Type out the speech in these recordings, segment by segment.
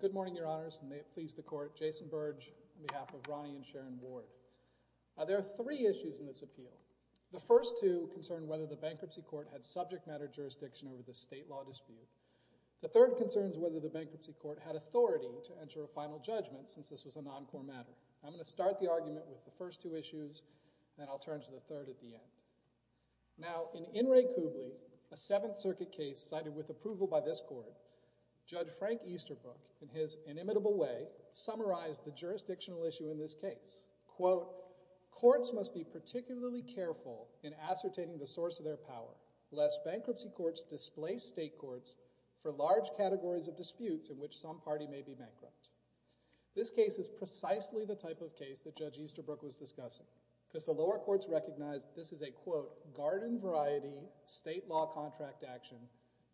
Good morning, Your Honors, and may it please the Court, Jason Burge, on behalf of Ronnie and Sharon Ward. There are three issues in this appeal. The first two concern whether the Bankruptcy Court had subject matter jurisdiction over the state law dispute. The third concerns whether the Bankruptcy Court had authority to enter a final judgment since this was a non-core matter. I'm going to start the argument with the first two issues, and then I'll turn to the third at the end. Now, in In re Coobley, a Seventh Circuit case cited with approval by this Court, Judge Frank Easterbrook, in his inimitable way, summarized the jurisdictional issue in this case. Quote, courts must be particularly careful in ascertaining the source of their power lest bankruptcy courts displace state courts for large categories of disputes in which some party may be bankrupt. This case is precisely the type of case that Judge Easterbrook was discussing, because the lower courts recognized this is a, quote, garden-variety state law contract action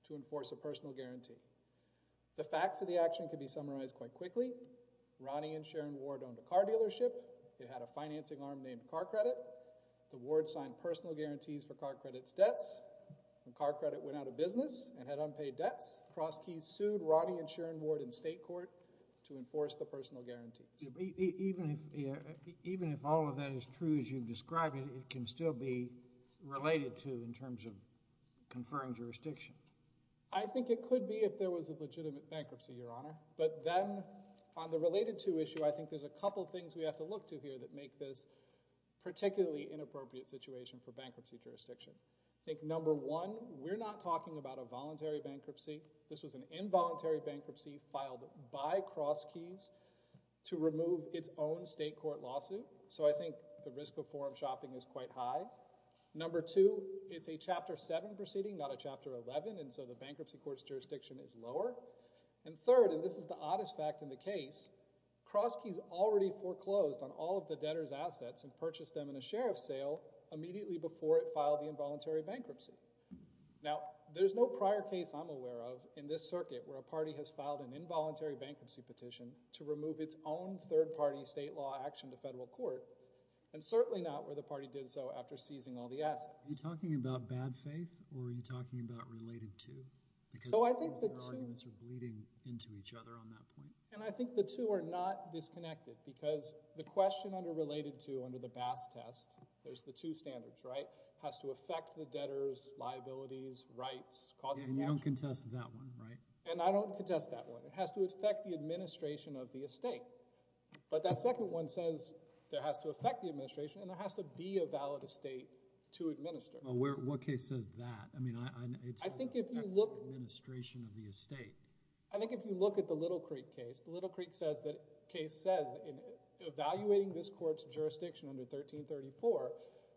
to enforce a personal guarantee. The facts of the action can be summarized quite quickly. Ronnie and Sharon Ward owned a car dealership. It had a financing arm named Car Credit. The Ward signed personal guarantees for Car Credit's debts. Car Credit went out of business and had unpaid debts. Cross Keys sued Ronnie and Sharon Ward in state court to enforce the personal guarantees. Even if, even if all of that is true as you've described it, it can still be related to in terms of conferring jurisdiction? I think it could be if there was a legitimate bankruptcy, Your Honor, but then on the related to issue, I think there's a couple things we have to look to here that make this particularly inappropriate situation for bankruptcy jurisdiction. I think number one, we're not talking about a voluntary bankruptcy. This was an involuntary bankruptcy filed by Cross Keys to remove its own state court lawsuit. So I think the risk of forum shopping is quite high. Number two, it's a Chapter 7 proceeding, not a Chapter 11, and so the bankruptcy court's jurisdiction is lower. And third, and this is the oddest fact in the case, Cross Keys already foreclosed on all of the debtors' assets and purchased them in a sheriff's sale immediately before it became a voluntary bankruptcy. Now there's no prior case I'm aware of in this circuit where a party has filed an involuntary bankruptcy petition to remove its own third-party state law action to federal court, and certainly not where the party did so after seizing all the assets. Are you talking about bad faith or are you talking about related to? So I think the two— Because both of your arguments are bleeding into each other on that point. And I think the two are not disconnected because the question under related to under the Bass Test, there's the two standards, right, has to affect the debtors' liabilities, rights, costs of— And you don't contest that one, right? And I don't contest that one. It has to affect the administration of the estate. But that second one says there has to affect the administration and there has to be a valid estate to administer. What case says that? I mean, it's— I think if you look— —administration of the estate. I think if you look at the Little Creek case, the Little Creek case says in evaluating this case in 1934,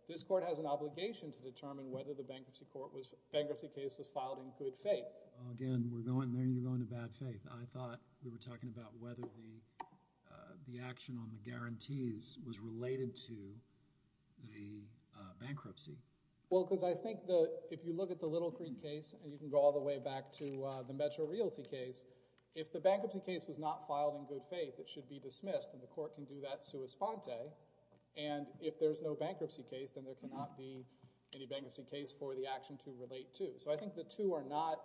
this court has an obligation to determine whether the bankruptcy court was— bankruptcy case was filed in good faith. Again, we're going there and you're going to bad faith. I thought we were talking about whether the action on the guarantees was related to the bankruptcy. Well, because I think the—if you look at the Little Creek case, and you can go all the way back to the Metro Realty case, if the bankruptcy case was not filed in good faith, it should be dismissed, and the court can do that sua sponte. And if there's no bankruptcy case, then there cannot be any bankruptcy case for the action to relate to. So I think the two are not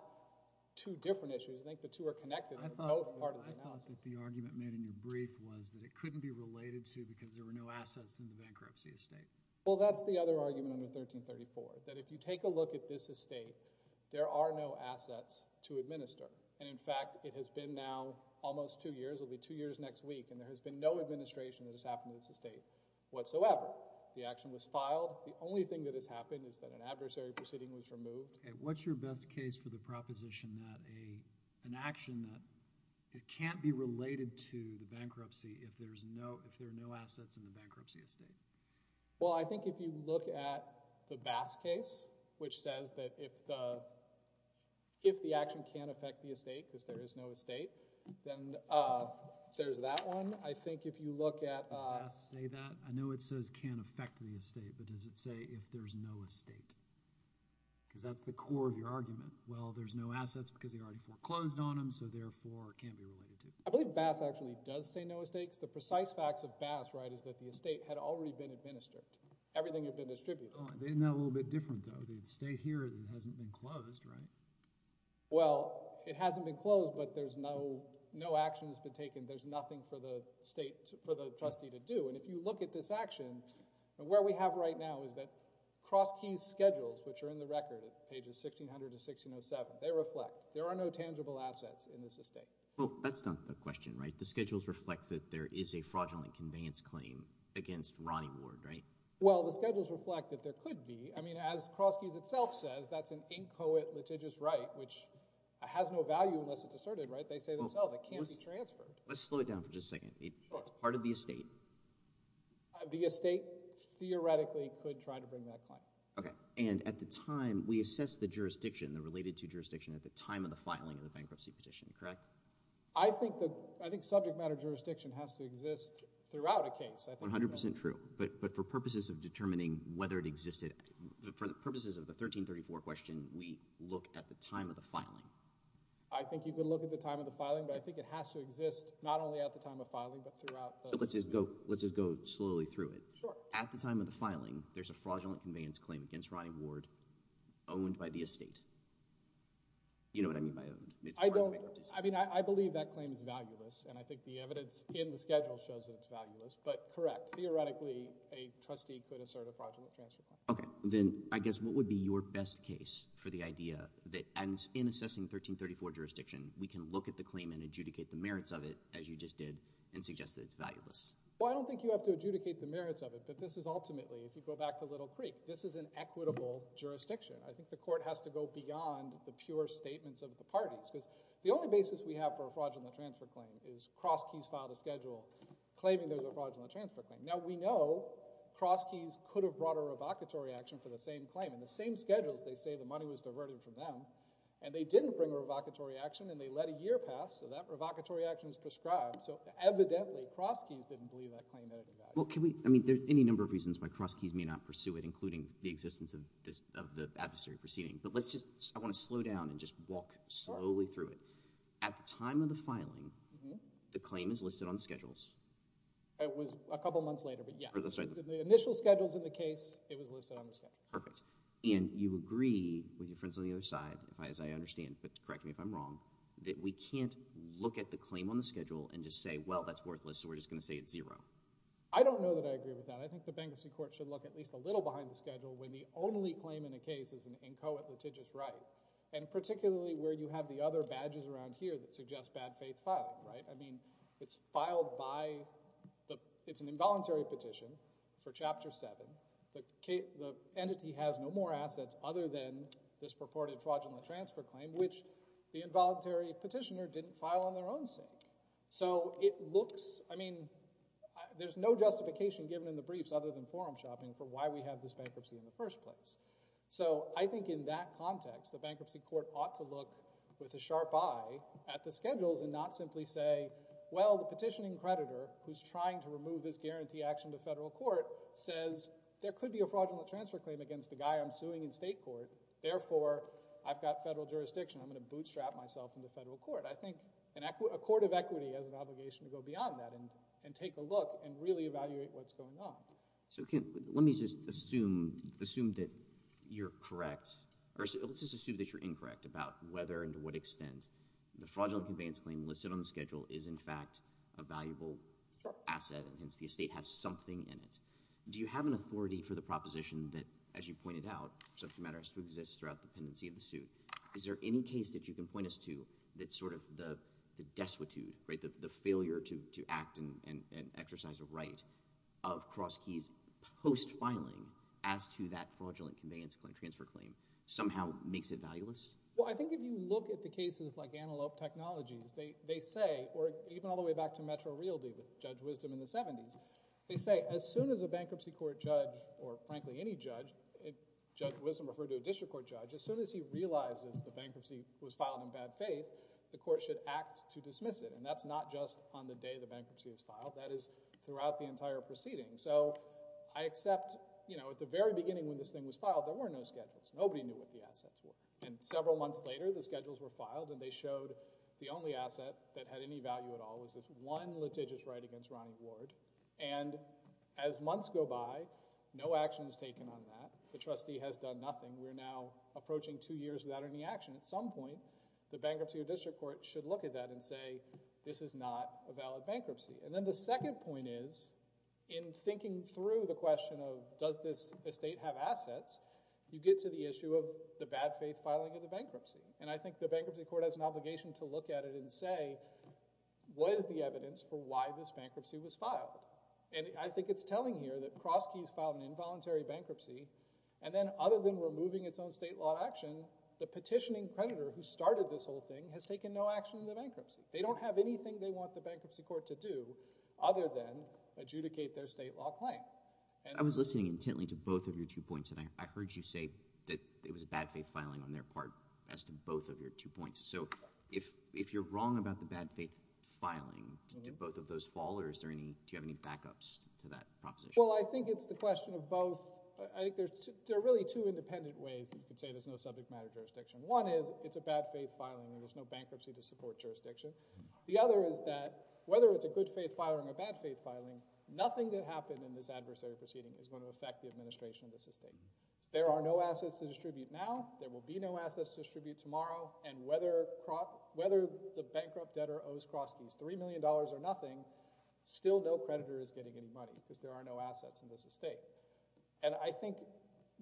two different issues. I think the two are connected in both parts of the analysis. I thought what the argument made in your brief was that it couldn't be related to because there were no assets in the bankruptcy estate. Well, that's the other argument under 1334, that if you take a look at this estate, there are no assets to administer. And in fact, it has been now almost two years. It'll be two years next week. And there has been no administration that has happened to this estate whatsoever. The action was filed. The only thing that has happened is that an adversary proceeding was removed. What's your best case for the proposition that an action that can't be related to the bankruptcy if there are no assets in the bankruptcy estate? Well, I think if you look at the Bass case, which says that if the action can't affect the estate because there is no estate, then there's that one. I think if you look at— Does Bass say that? I know it says can't affect the estate, but does it say if there's no estate? Because that's the core of your argument. Well, there's no assets because they already foreclosed on them, so therefore it can't be related to. I believe Bass actually does say no estate because the precise facts of Bass, right, is that the estate had already been administered. Everything had been distributed. Oh, they're now a little bit different, though. The estate here hasn't been closed, right? Well, it hasn't been closed, but no action has been taken. There's nothing for the trustee to do, and if you look at this action, where we have right now is that Crosky's schedules, which are in the record at pages 1600 to 1607, they reflect there are no tangible assets in this estate. Well, that's not the question, right? The schedules reflect that there is a fraudulent conveyance claim against Ronnie Ward, right? Well, the schedules reflect that there could be. I mean, as Crosky's itself says, that's an inchoate litigious right, which has no value unless it's asserted, right? They say themselves it can't be transferred. Let's slow it down for just a second. It's part of the estate. The estate theoretically could try to bring that claim. Okay, and at the time, we assess the jurisdiction, the related to jurisdiction at the time of the filing of the bankruptcy petition, correct? I think subject matter jurisdiction has to exist throughout a case. That's 100% true, but for purposes of determining whether it existed, for the purposes of the 1334 question, we look at the time of the filing. I think you could look at the time of the filing, but I think it has to exist not only at the time of filing, but throughout the case. So let's just go slowly through it. Sure. At the time of the filing, there's a fraudulent conveyance claim against Ronnie Ward owned by the estate. You know what I mean by owned. I mean, I believe that claim is valueless, and I think the evidence in the schedule shows that it's valueless, but correct. Theoretically, a trustee could assert a fraudulent transfer claim. Okay, then I guess what would be your best case for the idea that in assessing 1334 jurisdiction, we can look at the claim and adjudicate the merits of it, as you just did, and suggest that it's valueless? Well, I don't think you have to adjudicate the merits of it, but this is ultimately, if you go back to Little Creek, this is an equitable jurisdiction. I think the court has to go beyond the pure statements of the parties, because the only basis we have for a fraudulent transfer claim is Cross Keys filed a schedule claiming there's a fraudulent transfer claim. Now, we know Cross Keys could have brought a revocatory action for the same claim. In the same schedules, they say the money was diverted from them, and they didn't bring a revocatory action, and they let a year pass, so that revocatory action is prescribed. So evidently, Cross Keys didn't believe that claim had any value. Well, can we, I mean, there's any number of reasons why Cross Keys may not pursue it, including the existence of the adversary proceeding, but let's just, I want to slow down and just look slowly through it. At the time of the filing, the claim is listed on schedules. It was a couple months later, but yeah, the initial schedules in the case, it was listed on the schedule. Perfect. And you agree with your friends on the other side, as I understand, but correct me if I'm wrong, that we can't look at the claim on the schedule and just say, well, that's worthless, so we're just going to say it's zero. I don't know that I agree with that. I think the bankruptcy court should look at least a little behind the schedule when the only claim in a case is an inchoate litigious right, and particularly where you have the other badges around here that suggest bad faith filing, right? I mean, it's filed by the, it's an involuntary petition for chapter seven. The entity has no more assets other than this purported fraudulent transfer claim, which the involuntary petitioner didn't file on their own sake. So it looks, I mean, there's no justification given in the briefs other than forum shopping for why we have this bankruptcy in the first place. So I think in that context, the bankruptcy court ought to look with a sharp eye at the schedules and not simply say, well, the petitioning creditor who's trying to remove this guarantee action to federal court says there could be a fraudulent transfer claim against the guy I'm suing in state court, therefore I've got federal jurisdiction. I'm going to bootstrap myself into federal court. I think a court of equity has an obligation to go beyond that and take a look and really evaluate what's going on. So let me just assume that you're correct, or let's just assume that you're incorrect about whether and to what extent the fraudulent conveyance claim listed on the schedule is in fact a valuable asset, and hence the estate has something in it. Do you have an authority for the proposition that, as you pointed out, subject matter has to exist throughout the pendency of the suit? Is there any case that you can point us to that's sort of the destitute, right, the failure to act and exercise a right of cross keys post-filing as to that fraudulent conveyance transfer claim somehow makes it valueless? Well, I think if you look at the cases like Antelope Technologies, they say, or even all the way back to Metro Realty with Judge Wisdom in the 70s, they say as soon as a bankruptcy court judge, or frankly any judge, Judge Wisdom referred to a district court judge, as soon as he realizes the bankruptcy was filed in bad faith, the court should act to dismiss it. And that's not just on the day the bankruptcy is filed. That is throughout the entire proceeding. So I accept, you know, at the very beginning when this thing was filed, there were no schedules. Nobody knew what the assets were. And several months later, the schedules were filed, and they showed the only asset that had any value at all was this one litigious right against Ronnie Ward. And as months go by, no action is taken on that. The trustee has done nothing. We're now approaching two years without any action. And at some point, the bankruptcy or district court should look at that and say, this is not a valid bankruptcy. And then the second point is, in thinking through the question of does this estate have assets, you get to the issue of the bad faith filing of the bankruptcy. And I think the bankruptcy court has an obligation to look at it and say, what is the evidence for why this bankruptcy was filed? And I think it's telling here that Crosskey's filed an involuntary bankruptcy, and then other than removing its own state law action, the petitioning creditor who started this whole thing has taken no action on the bankruptcy. They don't have anything they want the bankruptcy court to do other than adjudicate their state law claim. I was listening intently to both of your two points, and I heard you say that it was a bad faith filing on their part as to both of your two points. So if you're wrong about the bad faith filing, did both of those fall, or do you have any backups to that proposition? Well, I think it's the question of both. I think there are really two independent ways that you could say there's no subject matter jurisdiction. One is it's a bad faith filing, and there's no bankruptcy to support jurisdiction. The other is that whether it's a good faith filing or a bad faith filing, nothing that happened in this adversary proceeding is going to affect the administration of this estate. There are no assets to distribute now, there will be no assets to distribute tomorrow, and whether the bankrupt debtor owes Crosskey's $3 million or nothing, still no creditor is getting any money, because there are no assets in this estate. And I think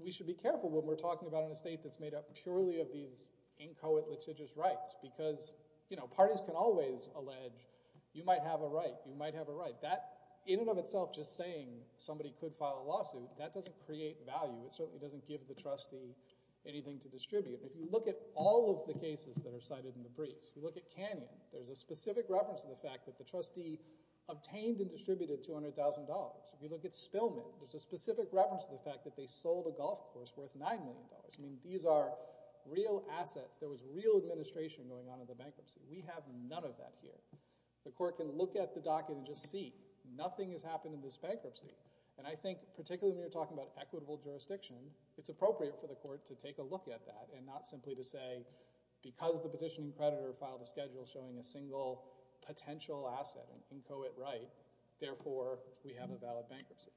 we should be careful when we're talking about an estate that's made up purely of these inchoate litigious rights, because parties can always allege, you might have a right, you might have a right. That in and of itself just saying somebody could file a lawsuit, that doesn't create value. It certainly doesn't give the trustee anything to distribute. If you look at all of the cases that are cited in the briefs, you look at Canyon, there's a specific reference to the fact that the trustee obtained and distributed $200,000. If you look at Spillman, there's a specific reference to the fact that they sold a golf course worth $9 million. I mean, these are real assets, there was real administration going on in the bankruptcy. We have none of that here. The court can look at the docket and just see, nothing has happened in this bankruptcy. And I think, particularly when you're talking about equitable jurisdiction, it's appropriate for the court to take a look at that, and not simply to say, because the petitioning creditor filed a schedule showing a single potential asset, an inchoate right, therefore we have a valid bankruptcy.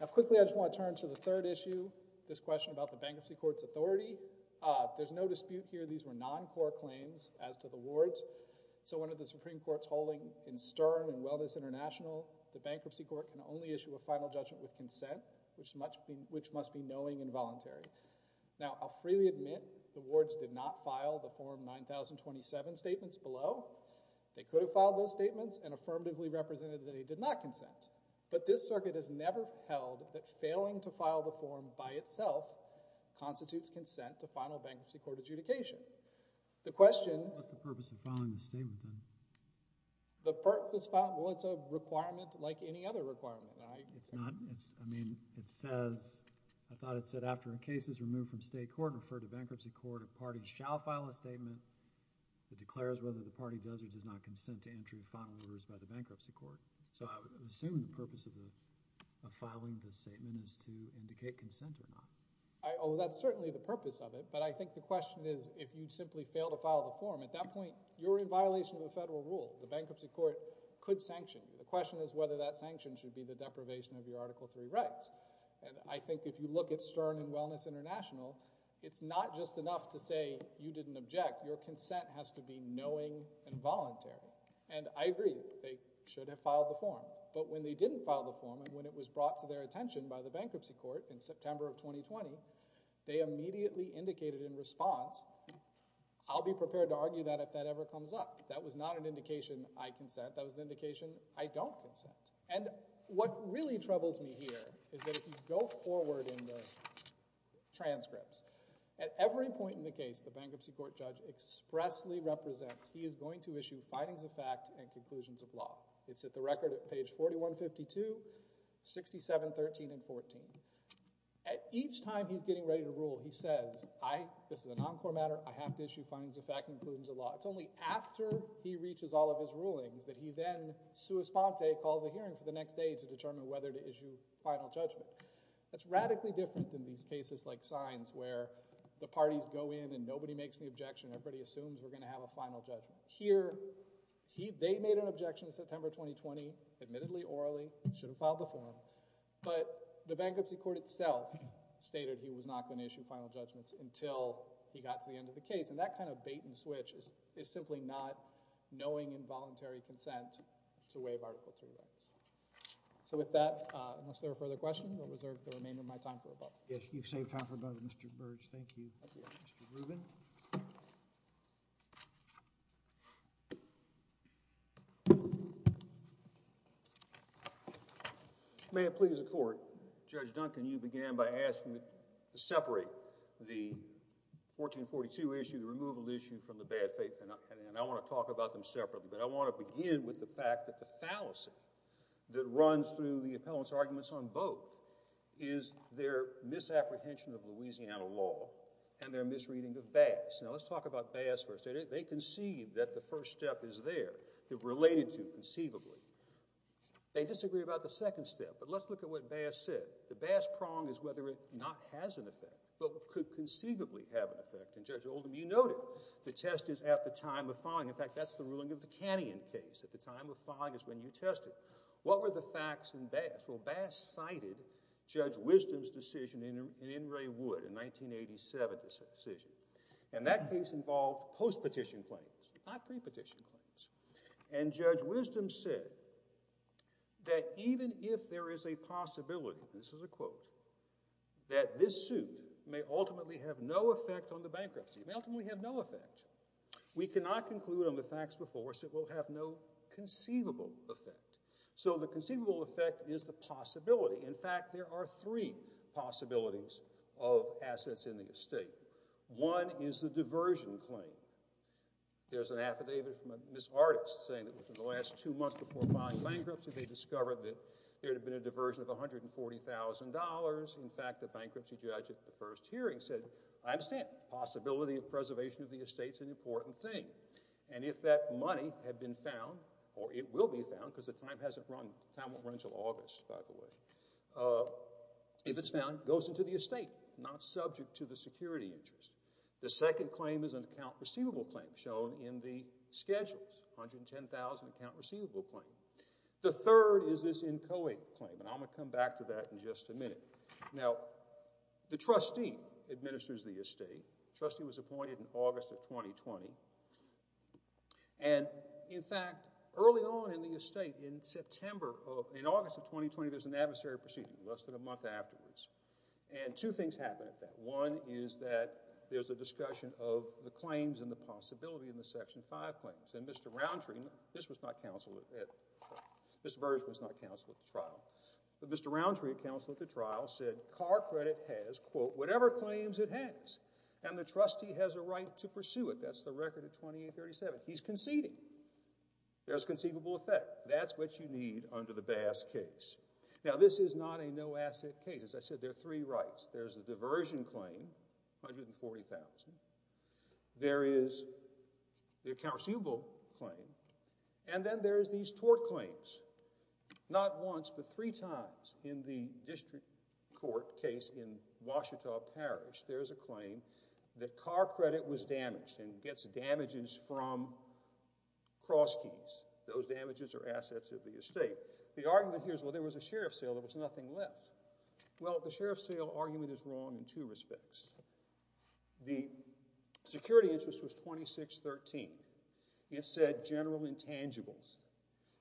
Now quickly, I just want to turn to the third issue, this question about the Bankruptcy Court's authority. There's no dispute here, these were non-court claims as to the wards. So under the Supreme Court's holding in Stern and Wellness International, the Bankruptcy Court can only issue a final judgment with consent, which must be knowing and voluntary. Now I'll freely admit, the wards did not file the Form 9027 statements below. They could have filed those statements and affirmatively represented that they did not consent. But this circuit has never held that failing to file the form by itself constitutes consent to final bankruptcy court adjudication. The question- What's the purpose of filing the statement then? The purpose of filing, well it's a requirement like any other requirement. It's not, it's, I mean, it says, I thought it said, after a case is removed from state court and referred to bankruptcy court, a party shall file a statement that declares whether the party does or does not consent to entry of final rumors by the bankruptcy court. So I would assume the purpose of the, of filing the statement is to indicate consent or not. I, oh that's certainly the purpose of it, but I think the question is if you simply fail to file the form, at that point you're in violation of the federal rule. The Bankruptcy Court could sanction you. The question is whether that sanction should be the deprivation of your Article III rights. And I think if you look at Stern and Wellness International, it's not just enough to say you didn't object, your consent has to be knowing and voluntary. And I agree, they should have filed the form. But when they didn't file the form, and when it was brought to their attention by the Bankruptcy Court in September of 2020, they immediately indicated in response, I'll be prepared to argue that if that ever comes up. That was not an indication I consent, that was an indication I don't consent. And what really troubles me here is that if you go forward in the transcripts, at every point in the case, the Bankruptcy Court judge expressly represents he is going to issue findings of fact and conclusions of law. It's at the record at page 4152, 67, 13, and 14. At each time he's getting ready to rule, he says, I, this is a non-core matter, I have to issue findings of fact and conclusions of law. It's only after he reaches all of his rulings that he then, sua sponte, calls a hearing for the next day to determine whether to issue final judgment. That's radically different than these cases like signs where the parties go in and nobody makes the objection, everybody assumes we're going to have a final judgment. Here, they made an objection in September 2020, admittedly, orally, should have filed the form, but the Bankruptcy Court itself stated he was not going to issue final judgments until he got to the end of the case, and that kind of bait and switch is simply not knowing involuntary consent to waive Article III rights. So with that, unless there are further questions, I'll reserve the remainder of my time for a moment. Yes, you've saved time for a moment, Mr. Burge. Thank you. Thank you. Mr. Rubin? May it please the Court, Judge Duncan, you began by asking to separate the 1442 issue, the removal issue, from the bad faith, and I want to talk about them separately, but I want to begin with the fact that the fallacy that runs through the appellant's arguments on both is their misapprehension of Louisiana law and their misreading of Bass. Now, let's talk about Bass first. They conceived that the first step is there, related to conceivably. They disagree about the second step, but let's look at what Bass said. The Bass prong is whether it not has an effect, but could conceivably have an effect, and Judge Oldham, you noted the test is at the time of filing. In fact, that's the ruling of the Canyon case at the time of filing is when you tested. What were the facts in Bass? Well, Bass cited Judge Wisdom's decision in In re Wood, a 1987 decision, and that case involved post-petition claims, not pre-petition claims, and Judge Wisdom said that even if there is a possibility, this is a quote, that this suit may ultimately have no effect on the facts before us. It will have no conceivable effect. So the conceivable effect is the possibility. In fact, there are three possibilities of assets in the estate. One is the diversion claim. There's an affidavit from Ms. Artis saying that within the last two months before filing bankruptcy, they discovered that there had been a diversion of $140,000. In fact, the bankruptcy judge at the first hearing said, I understand. Possibility of preservation of the estate is an important thing. And if that money had been found, or it will be found, because the time hasn't run, the time won't run until August, by the way, if it's found, it goes into the estate, not subject to the security interest. The second claim is an account receivable claim shown in the schedules, $110,000 account receivable claim. The third is this inchoate claim, and I'm going to come back to that in just a minute. Now, the trustee administers the estate. The trustee was appointed in August of 2020. And in fact, early on in the estate, in September of, in August of 2020, there's an adversary proceeding less than a month afterwards. And two things happened at that. One is that there's a discussion of the claims and the possibility in the Section 5 claims. And Mr. Roundtree, this was not counseled at, Mr. Burns was not counseled at the trial. But Mr. Roundtree, counsel at the trial, said car credit has, quote, whatever claims it has, and the trustee has a right to pursue it. That's the record of 2837. He's conceding. There's conceivable effect. That's what you need under the Bass case. Now, this is not a no-asset case. As I said, there are three rights. There's a diversion claim, $140,000. There is the account receivable claim. And then there's these tort claims. Not once, but three times in the district court case in Ouachita Parish, there's a claim that car credit was damaged and gets damages from crosskeys. Those damages are assets of the estate. The argument here is, well, there was a sheriff's sale. There was nothing left. Well, the sheriff's sale argument is wrong in two respects. The security interest was 2613. It said general intangibles.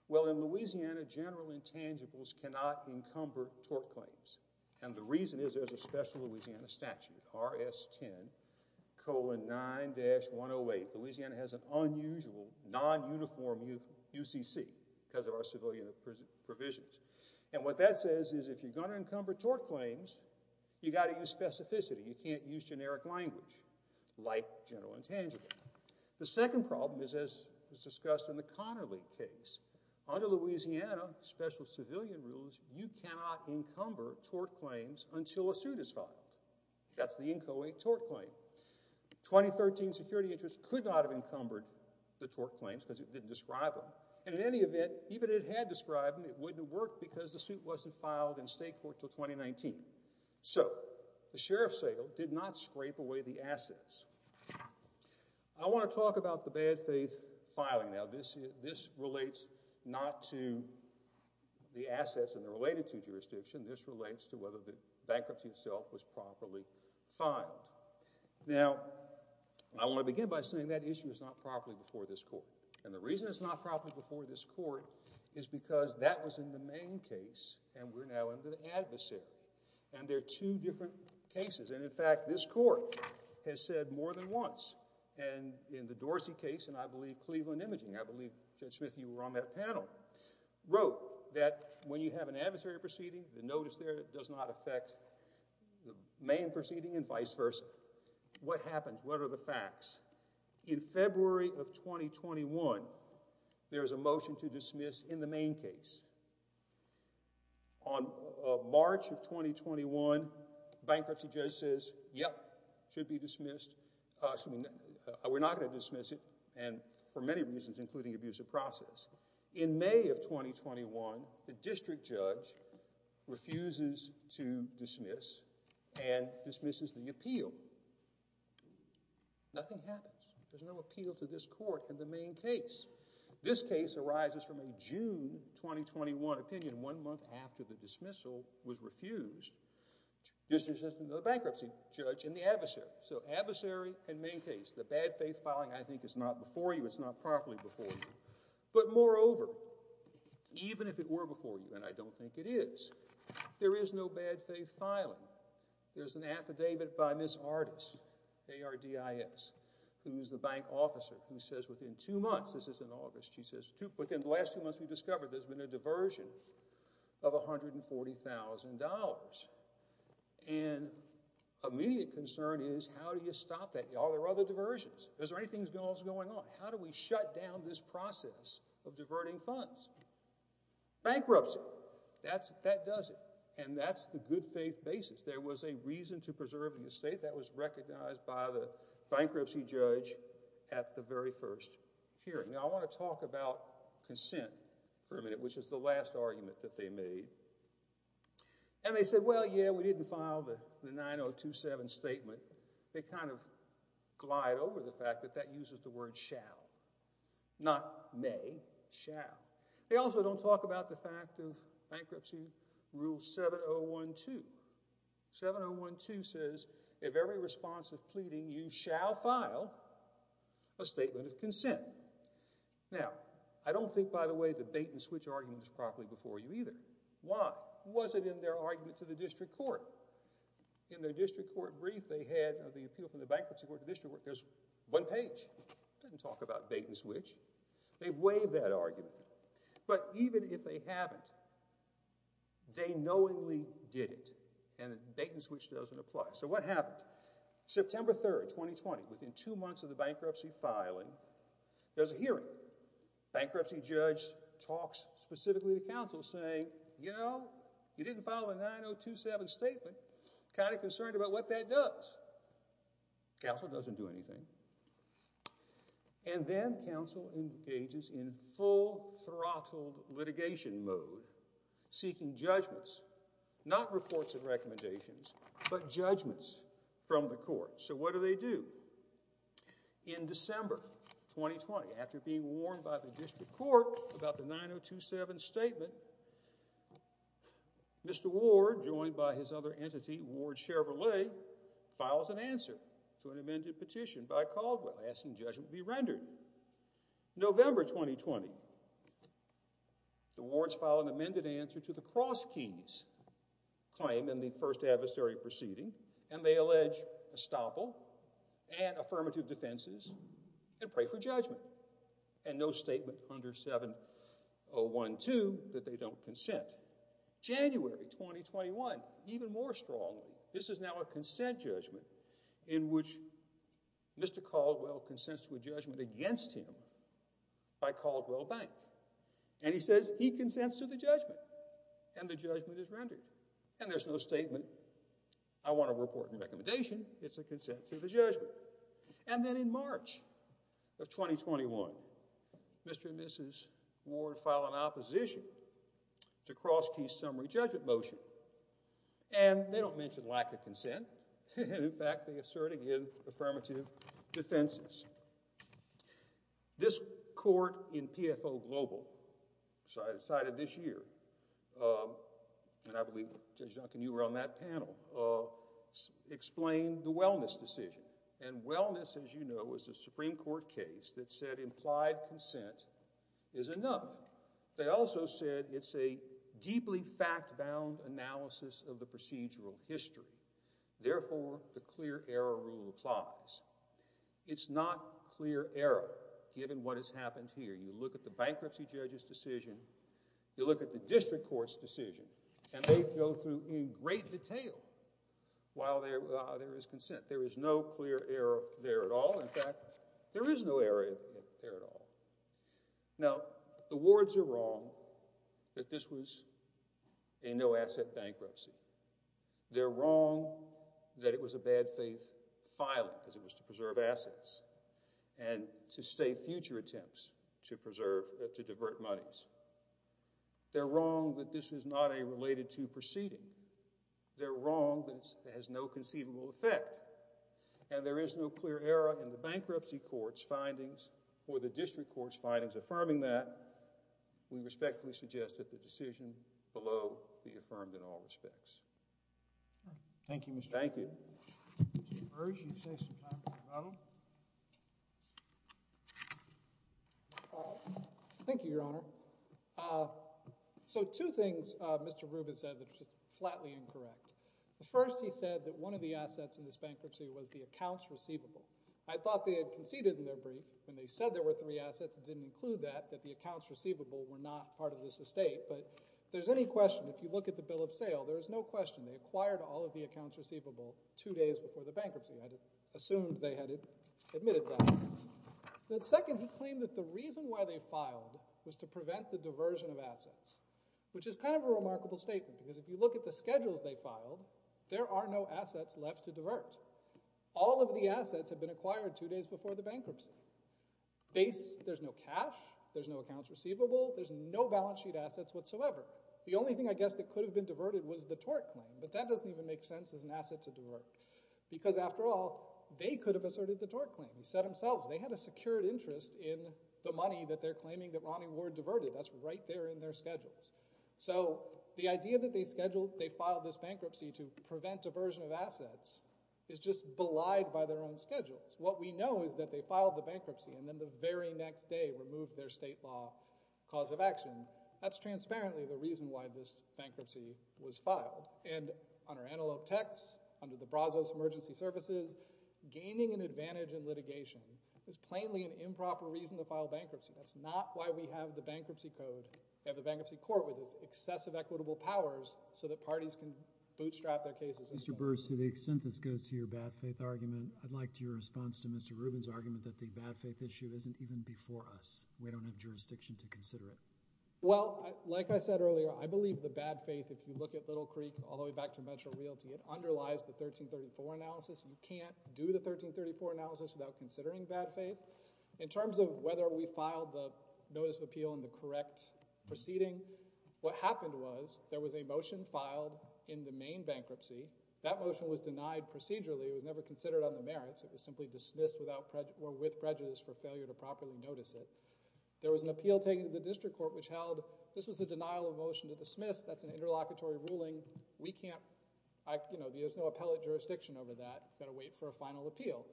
Well, in Louisiana, general intangibles cannot encumber tort claims. And the reason is there's a special Louisiana statute, RS-10, colon 9-108. Louisiana has an unusual non-uniform UCC because of our civilian provisions. And what that says is if you're going to encumber tort claims, you got to use specificity. You can't use generic language like general intangible. The second problem is, as was discussed in the Connerly case, under Louisiana special civilian rules, you cannot encumber tort claims until a suit is filed. That's the Inco 8 tort claim. 2013 security interest could not have encumbered the tort claims because it didn't describe them. And in any event, even if it had described them, it wouldn't have worked because the suit wasn't filed in state court until 2019. So the sheriff's sale did not scrape away the assets. I want to talk about the bad faith filing. Now, this relates not to the assets and they're related to jurisdiction. This relates to whether the bankruptcy itself was properly filed. Now, I want to begin by saying that issue is not properly before this court. And the reason it's not properly before this court is because that was in the main case and we're now into the adversary. And there are two different cases. And in fact, this court has said more than once. And in the Dorsey case, and I believe Cleveland Imaging, I believe, Judge Smith, you were on that panel, wrote that when you have an adversary proceeding, the notice there does not affect the main proceeding and vice versa. What happens? What are the facts? In February of 2021, there was a motion to dismiss in the main case. On March of 2021, bankruptcy judge says, yep, should be dismissed. Excuse me, we're not going to dismiss it. And for many reasons, including abuse of process. In May of 2021, the district judge refuses to dismiss and dismisses the appeal. Nothing happens. There's no appeal to this court in the main case. This case arises from a June 2021 opinion. One month after the dismissal was refused, the bankruptcy judge and the adversary. So adversary and main case. The bad faith filing, I think, is not before you. It's not properly before you. But moreover, even if it were before you, and I don't think it is, there is no bad faith filing. There's an affidavit by Ms. Artis, A-R-D-I-S, who's the bank officer, who says within two months, in August, she says, within the last two months, we discovered there's been a diversion of $140,000. And immediate concern is how do you stop that? Are there other diversions? Is there anything else going on? How do we shut down this process of diverting funds? Bankruptcy, that does it. And that's the good faith basis. There was a reason to preserve the estate that was recognized by the bankruptcy judge at the very first hearing. Now, I want to talk about consent for a minute, which is the last argument that they made. And they said, well, yeah, we didn't file the 9027 statement. They kind of glide over the fact that that uses the word shall, not may, shall. They also don't talk about the fact of bankruptcy rule 7012. 7012 says, if every response is pleading, you shall file a statement of consent. Now, I don't think, by the way, the bait and switch argument was properly before you either. Why? Was it in their argument to the district court? In their district court brief, they had the appeal from the bankruptcy court to district court. There's one page. It doesn't talk about bait and switch. They've waived that argument. But even if they haven't, they knowingly did it. And bait and switch doesn't apply. September 3, 2020, within two months of the bankruptcy filing, there's a hearing. Bankruptcy judge talks specifically to counsel saying, you know, you didn't follow the 9027 statement. Kind of concerned about what that does. Counsel doesn't do anything. And then counsel engages in full throttled litigation mode, seeking judgments, not reports of recommendations, but judgments from the court. So what do they do? In December 2020, after being warned by the district court about the 9027 statement, Mr. Ward, joined by his other entity, Ward Chevrolet, files an answer to an amended petition by Caldwell asking judgment be rendered. November 2020, the wards file an amended answer to the Cross Keys claim in the first adversary proceeding, and they allege estoppel and affirmative defenses and pray for judgment. And no statement under 7012 that they don't consent. January 2021, even more strongly, this is now a consent judgment in which Mr. Caldwell consents to a judgment against him by Caldwell Bank. And he says he consents to the judgment and the judgment is rendered. And there's no statement. I want to report a recommendation. It's a consent to the judgment. And then in March of 2021, Mr. and Mrs. Ward file an opposition to Cross Keys summary judgment motion. And they don't mention lack of consent. In fact, they assert again affirmative defenses. This court in PFO Global decided this year, and I believe Judge Duncan, you were on that panel, explained the wellness decision. And wellness, as you know, is a Supreme Court case that said implied consent is enough. They also said it's a deeply fact-bound analysis of the procedural history. Therefore, the clear error rule applies. It's not clear error given what has happened here. You look at the bankruptcy judge's decision. You look at the district court's decision. And they go through in great detail while there is consent. There is no clear error there at all. In fact, there is no error there at all. Now, the Wards are wrong that this was a no-asset bankruptcy. They're wrong that it was a bad faith filing because it was to preserve assets and to stay future attempts to preserve, to divert monies. They're wrong that this is not a related to proceeding. They're wrong that it has no conceivable effect. And there is no clear error in the bankruptcy court's findings or the district court's findings affirming that. We respectfully suggest that the decision below be affirmed in all respects. All right. Thank you, Mr. Rubin. Thank you. Mr. Burge, you have some time for a moment. Thank you, Your Honor. So two things Mr. Rubin said that are just flatly incorrect. The first, he said that one of the assets in this bankruptcy was the accounts receivable. I thought they had conceded in their brief when they said there were three assets. It didn't include that, that the accounts receivable were not part of this estate. But if there's any question, if you look at the bill of sale, there is no question they acquired all of the accounts receivable two days before the bankruptcy. I just assumed they had admitted that. Then second, he claimed that the reason why they filed was to prevent the diversion of assets, which is kind of a remarkable statement. Because if you look at the schedules they filed, there are no assets left to divert. All of the assets have been acquired two days before the bankruptcy. There's no cash. There's no accounts receivable. There's no balance sheet assets whatsoever. The only thing I guess that could have been diverted was the tort claim. But that doesn't even make sense as an asset to divert. Because after all, they could have asserted the tort claim. He said himself, they had a secured interest in the money that they're claiming that Ronnie Ward diverted. That's right there in their schedules. So the idea that they scheduled, they filed this bankruptcy to prevent diversion of assets is just belied by their own schedules. What we know is that they filed the bankruptcy and then the very next day removed their state law cause of action. That's transparently the reason why this bankruptcy was filed. And under Antelope text, under the Brazos Emergency Services, gaining an advantage in litigation is plainly an improper reason to file bankruptcy. That's not why we have the bankruptcy code. We have the bankruptcy court with its excessive equitable powers so that parties can bootstrap their cases. Mr. Burr, to the extent this goes to your bad faith argument, I'd like to your response to Mr. Rubin's argument that the bad faith issue isn't even before us. We don't have jurisdiction to consider it. Well, like I said earlier, I believe the bad faith, if you look at Little Creek all the way back to Metro Realty, it underlies the 1334 analysis. You can't do the 1334 analysis without considering bad faith. In terms of whether we filed the notice of appeal in the correct proceeding, what happened was there was a motion filed in the main bankruptcy. That motion was denied procedurally. It was never considered on the merits. It was simply dismissed without or with prejudice for failure to properly notice it. There was an appeal taken to the district court which held this was a denial of motion to dismiss. That's an interlocutory ruling. We can't, you know, there's no appellate jurisdiction over that. We've got to wait for a final appeal.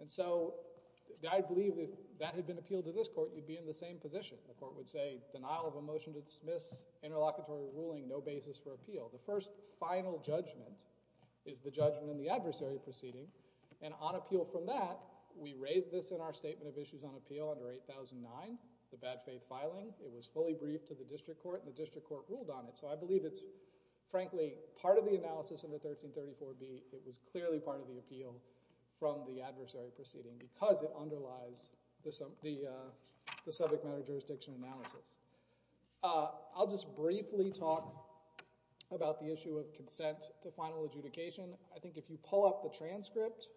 And so I believe if that had been appealed to this court, you'd be in the same position. The court would say denial of a motion to dismiss, interlocutory ruling, no basis for appeal. The first final judgment is the judgment in the adversary proceeding. And on appeal from that, we raise this in our statement of issues on appeal under 8009, the bad faith filing. It was fully briefed to the district court. The district court ruled on it. So I believe it's frankly part of the analysis of the 1334B. It was clearly part of the appeal from the adversary proceeding because it underlies the subject matter jurisdiction analysis. I'll just briefly talk about the issue of consent to final adjudication. I think if you pull up the transcript,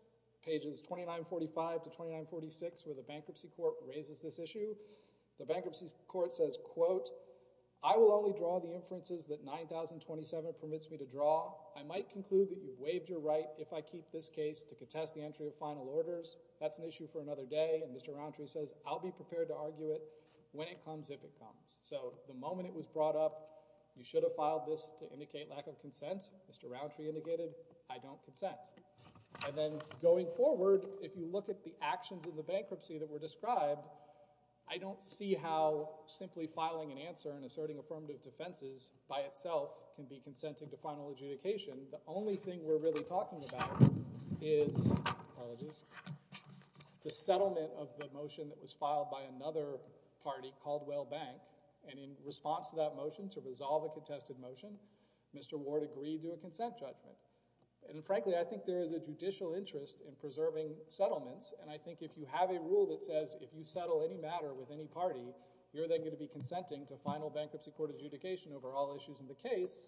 pages 2945 to 2946, where the bankruptcy court raises this issue, the bankruptcy court says, quote, I will only draw the inferences that 9027 permits me to draw. I might conclude that you've waived your right if I keep this case to contest the entry of final orders. That's an issue for another day. And Mr. Rountree says, I'll be prepared to argue it when it comes, if it comes. So the moment it was brought up, you should have filed this to indicate lack of consent, Mr. Rountree indicated, I don't consent. And then going forward, if you look at the actions of the bankruptcy that were described, I don't see how simply filing an answer and asserting affirmative defenses by itself can be consenting to final adjudication. The only thing we're really talking about is, apologies, the settlement of the motion that was filed by another party called Whale Bank. And in response to that motion, to resolve a contested motion, Mr. Ward agreed to a consent judgment. And frankly, I think there is a judicial interest in preserving settlements. And I think if you have a rule that says, if you settle any matter with any party, you're then going to be consenting to final bankruptcy court adjudication over all issues in the case.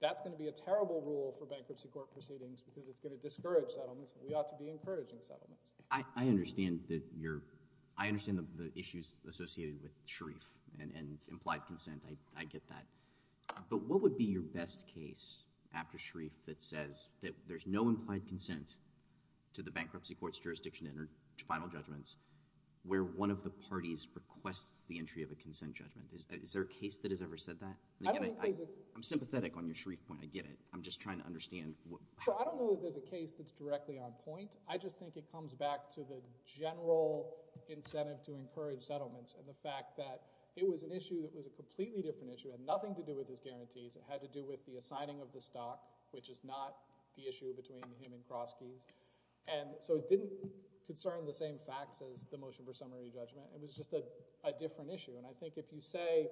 That's going to be a terrible rule for bankruptcy court proceedings because it's going to discourage settlements. We ought to be encouraging settlements. I understand the issues associated with Sharif and implied consent. I get that. But what would be your best case after Sharif that says that there's no implied consent to the bankruptcy court's jurisdiction to enter final judgments, where one of the parties requests the entry of a consent judgment? Is there a case that has ever said that? I'm sympathetic on your Sharif point. I get it. I'm just trying to understand. I don't know that there's a case that's directly on point. I just think it comes back to the general incentive to encourage settlements and the fact that it was an issue that was a completely different issue. It had nothing to do with his guarantees. It had to do with the assigning of the stock, which is not the issue between him and Kroski. And so it didn't concern the same facts as the motion for summary judgment. It was just a different issue. And I think if you say,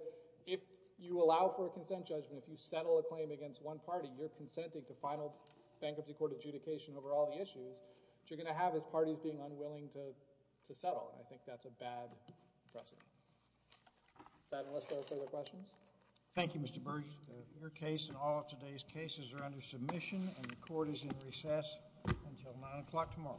if you allow for a consent judgment, if you settle a claim against one party, you're consenting to final bankruptcy court adjudication over all the issues that you're going to have as parties being unwilling to settle. And I think that's a bad precedent. Does that enlist our further questions? Thank you, Mr. Burge. Your case and all of today's cases are under submission, and the court is in recess until 9 o'clock tomorrow. Thank you.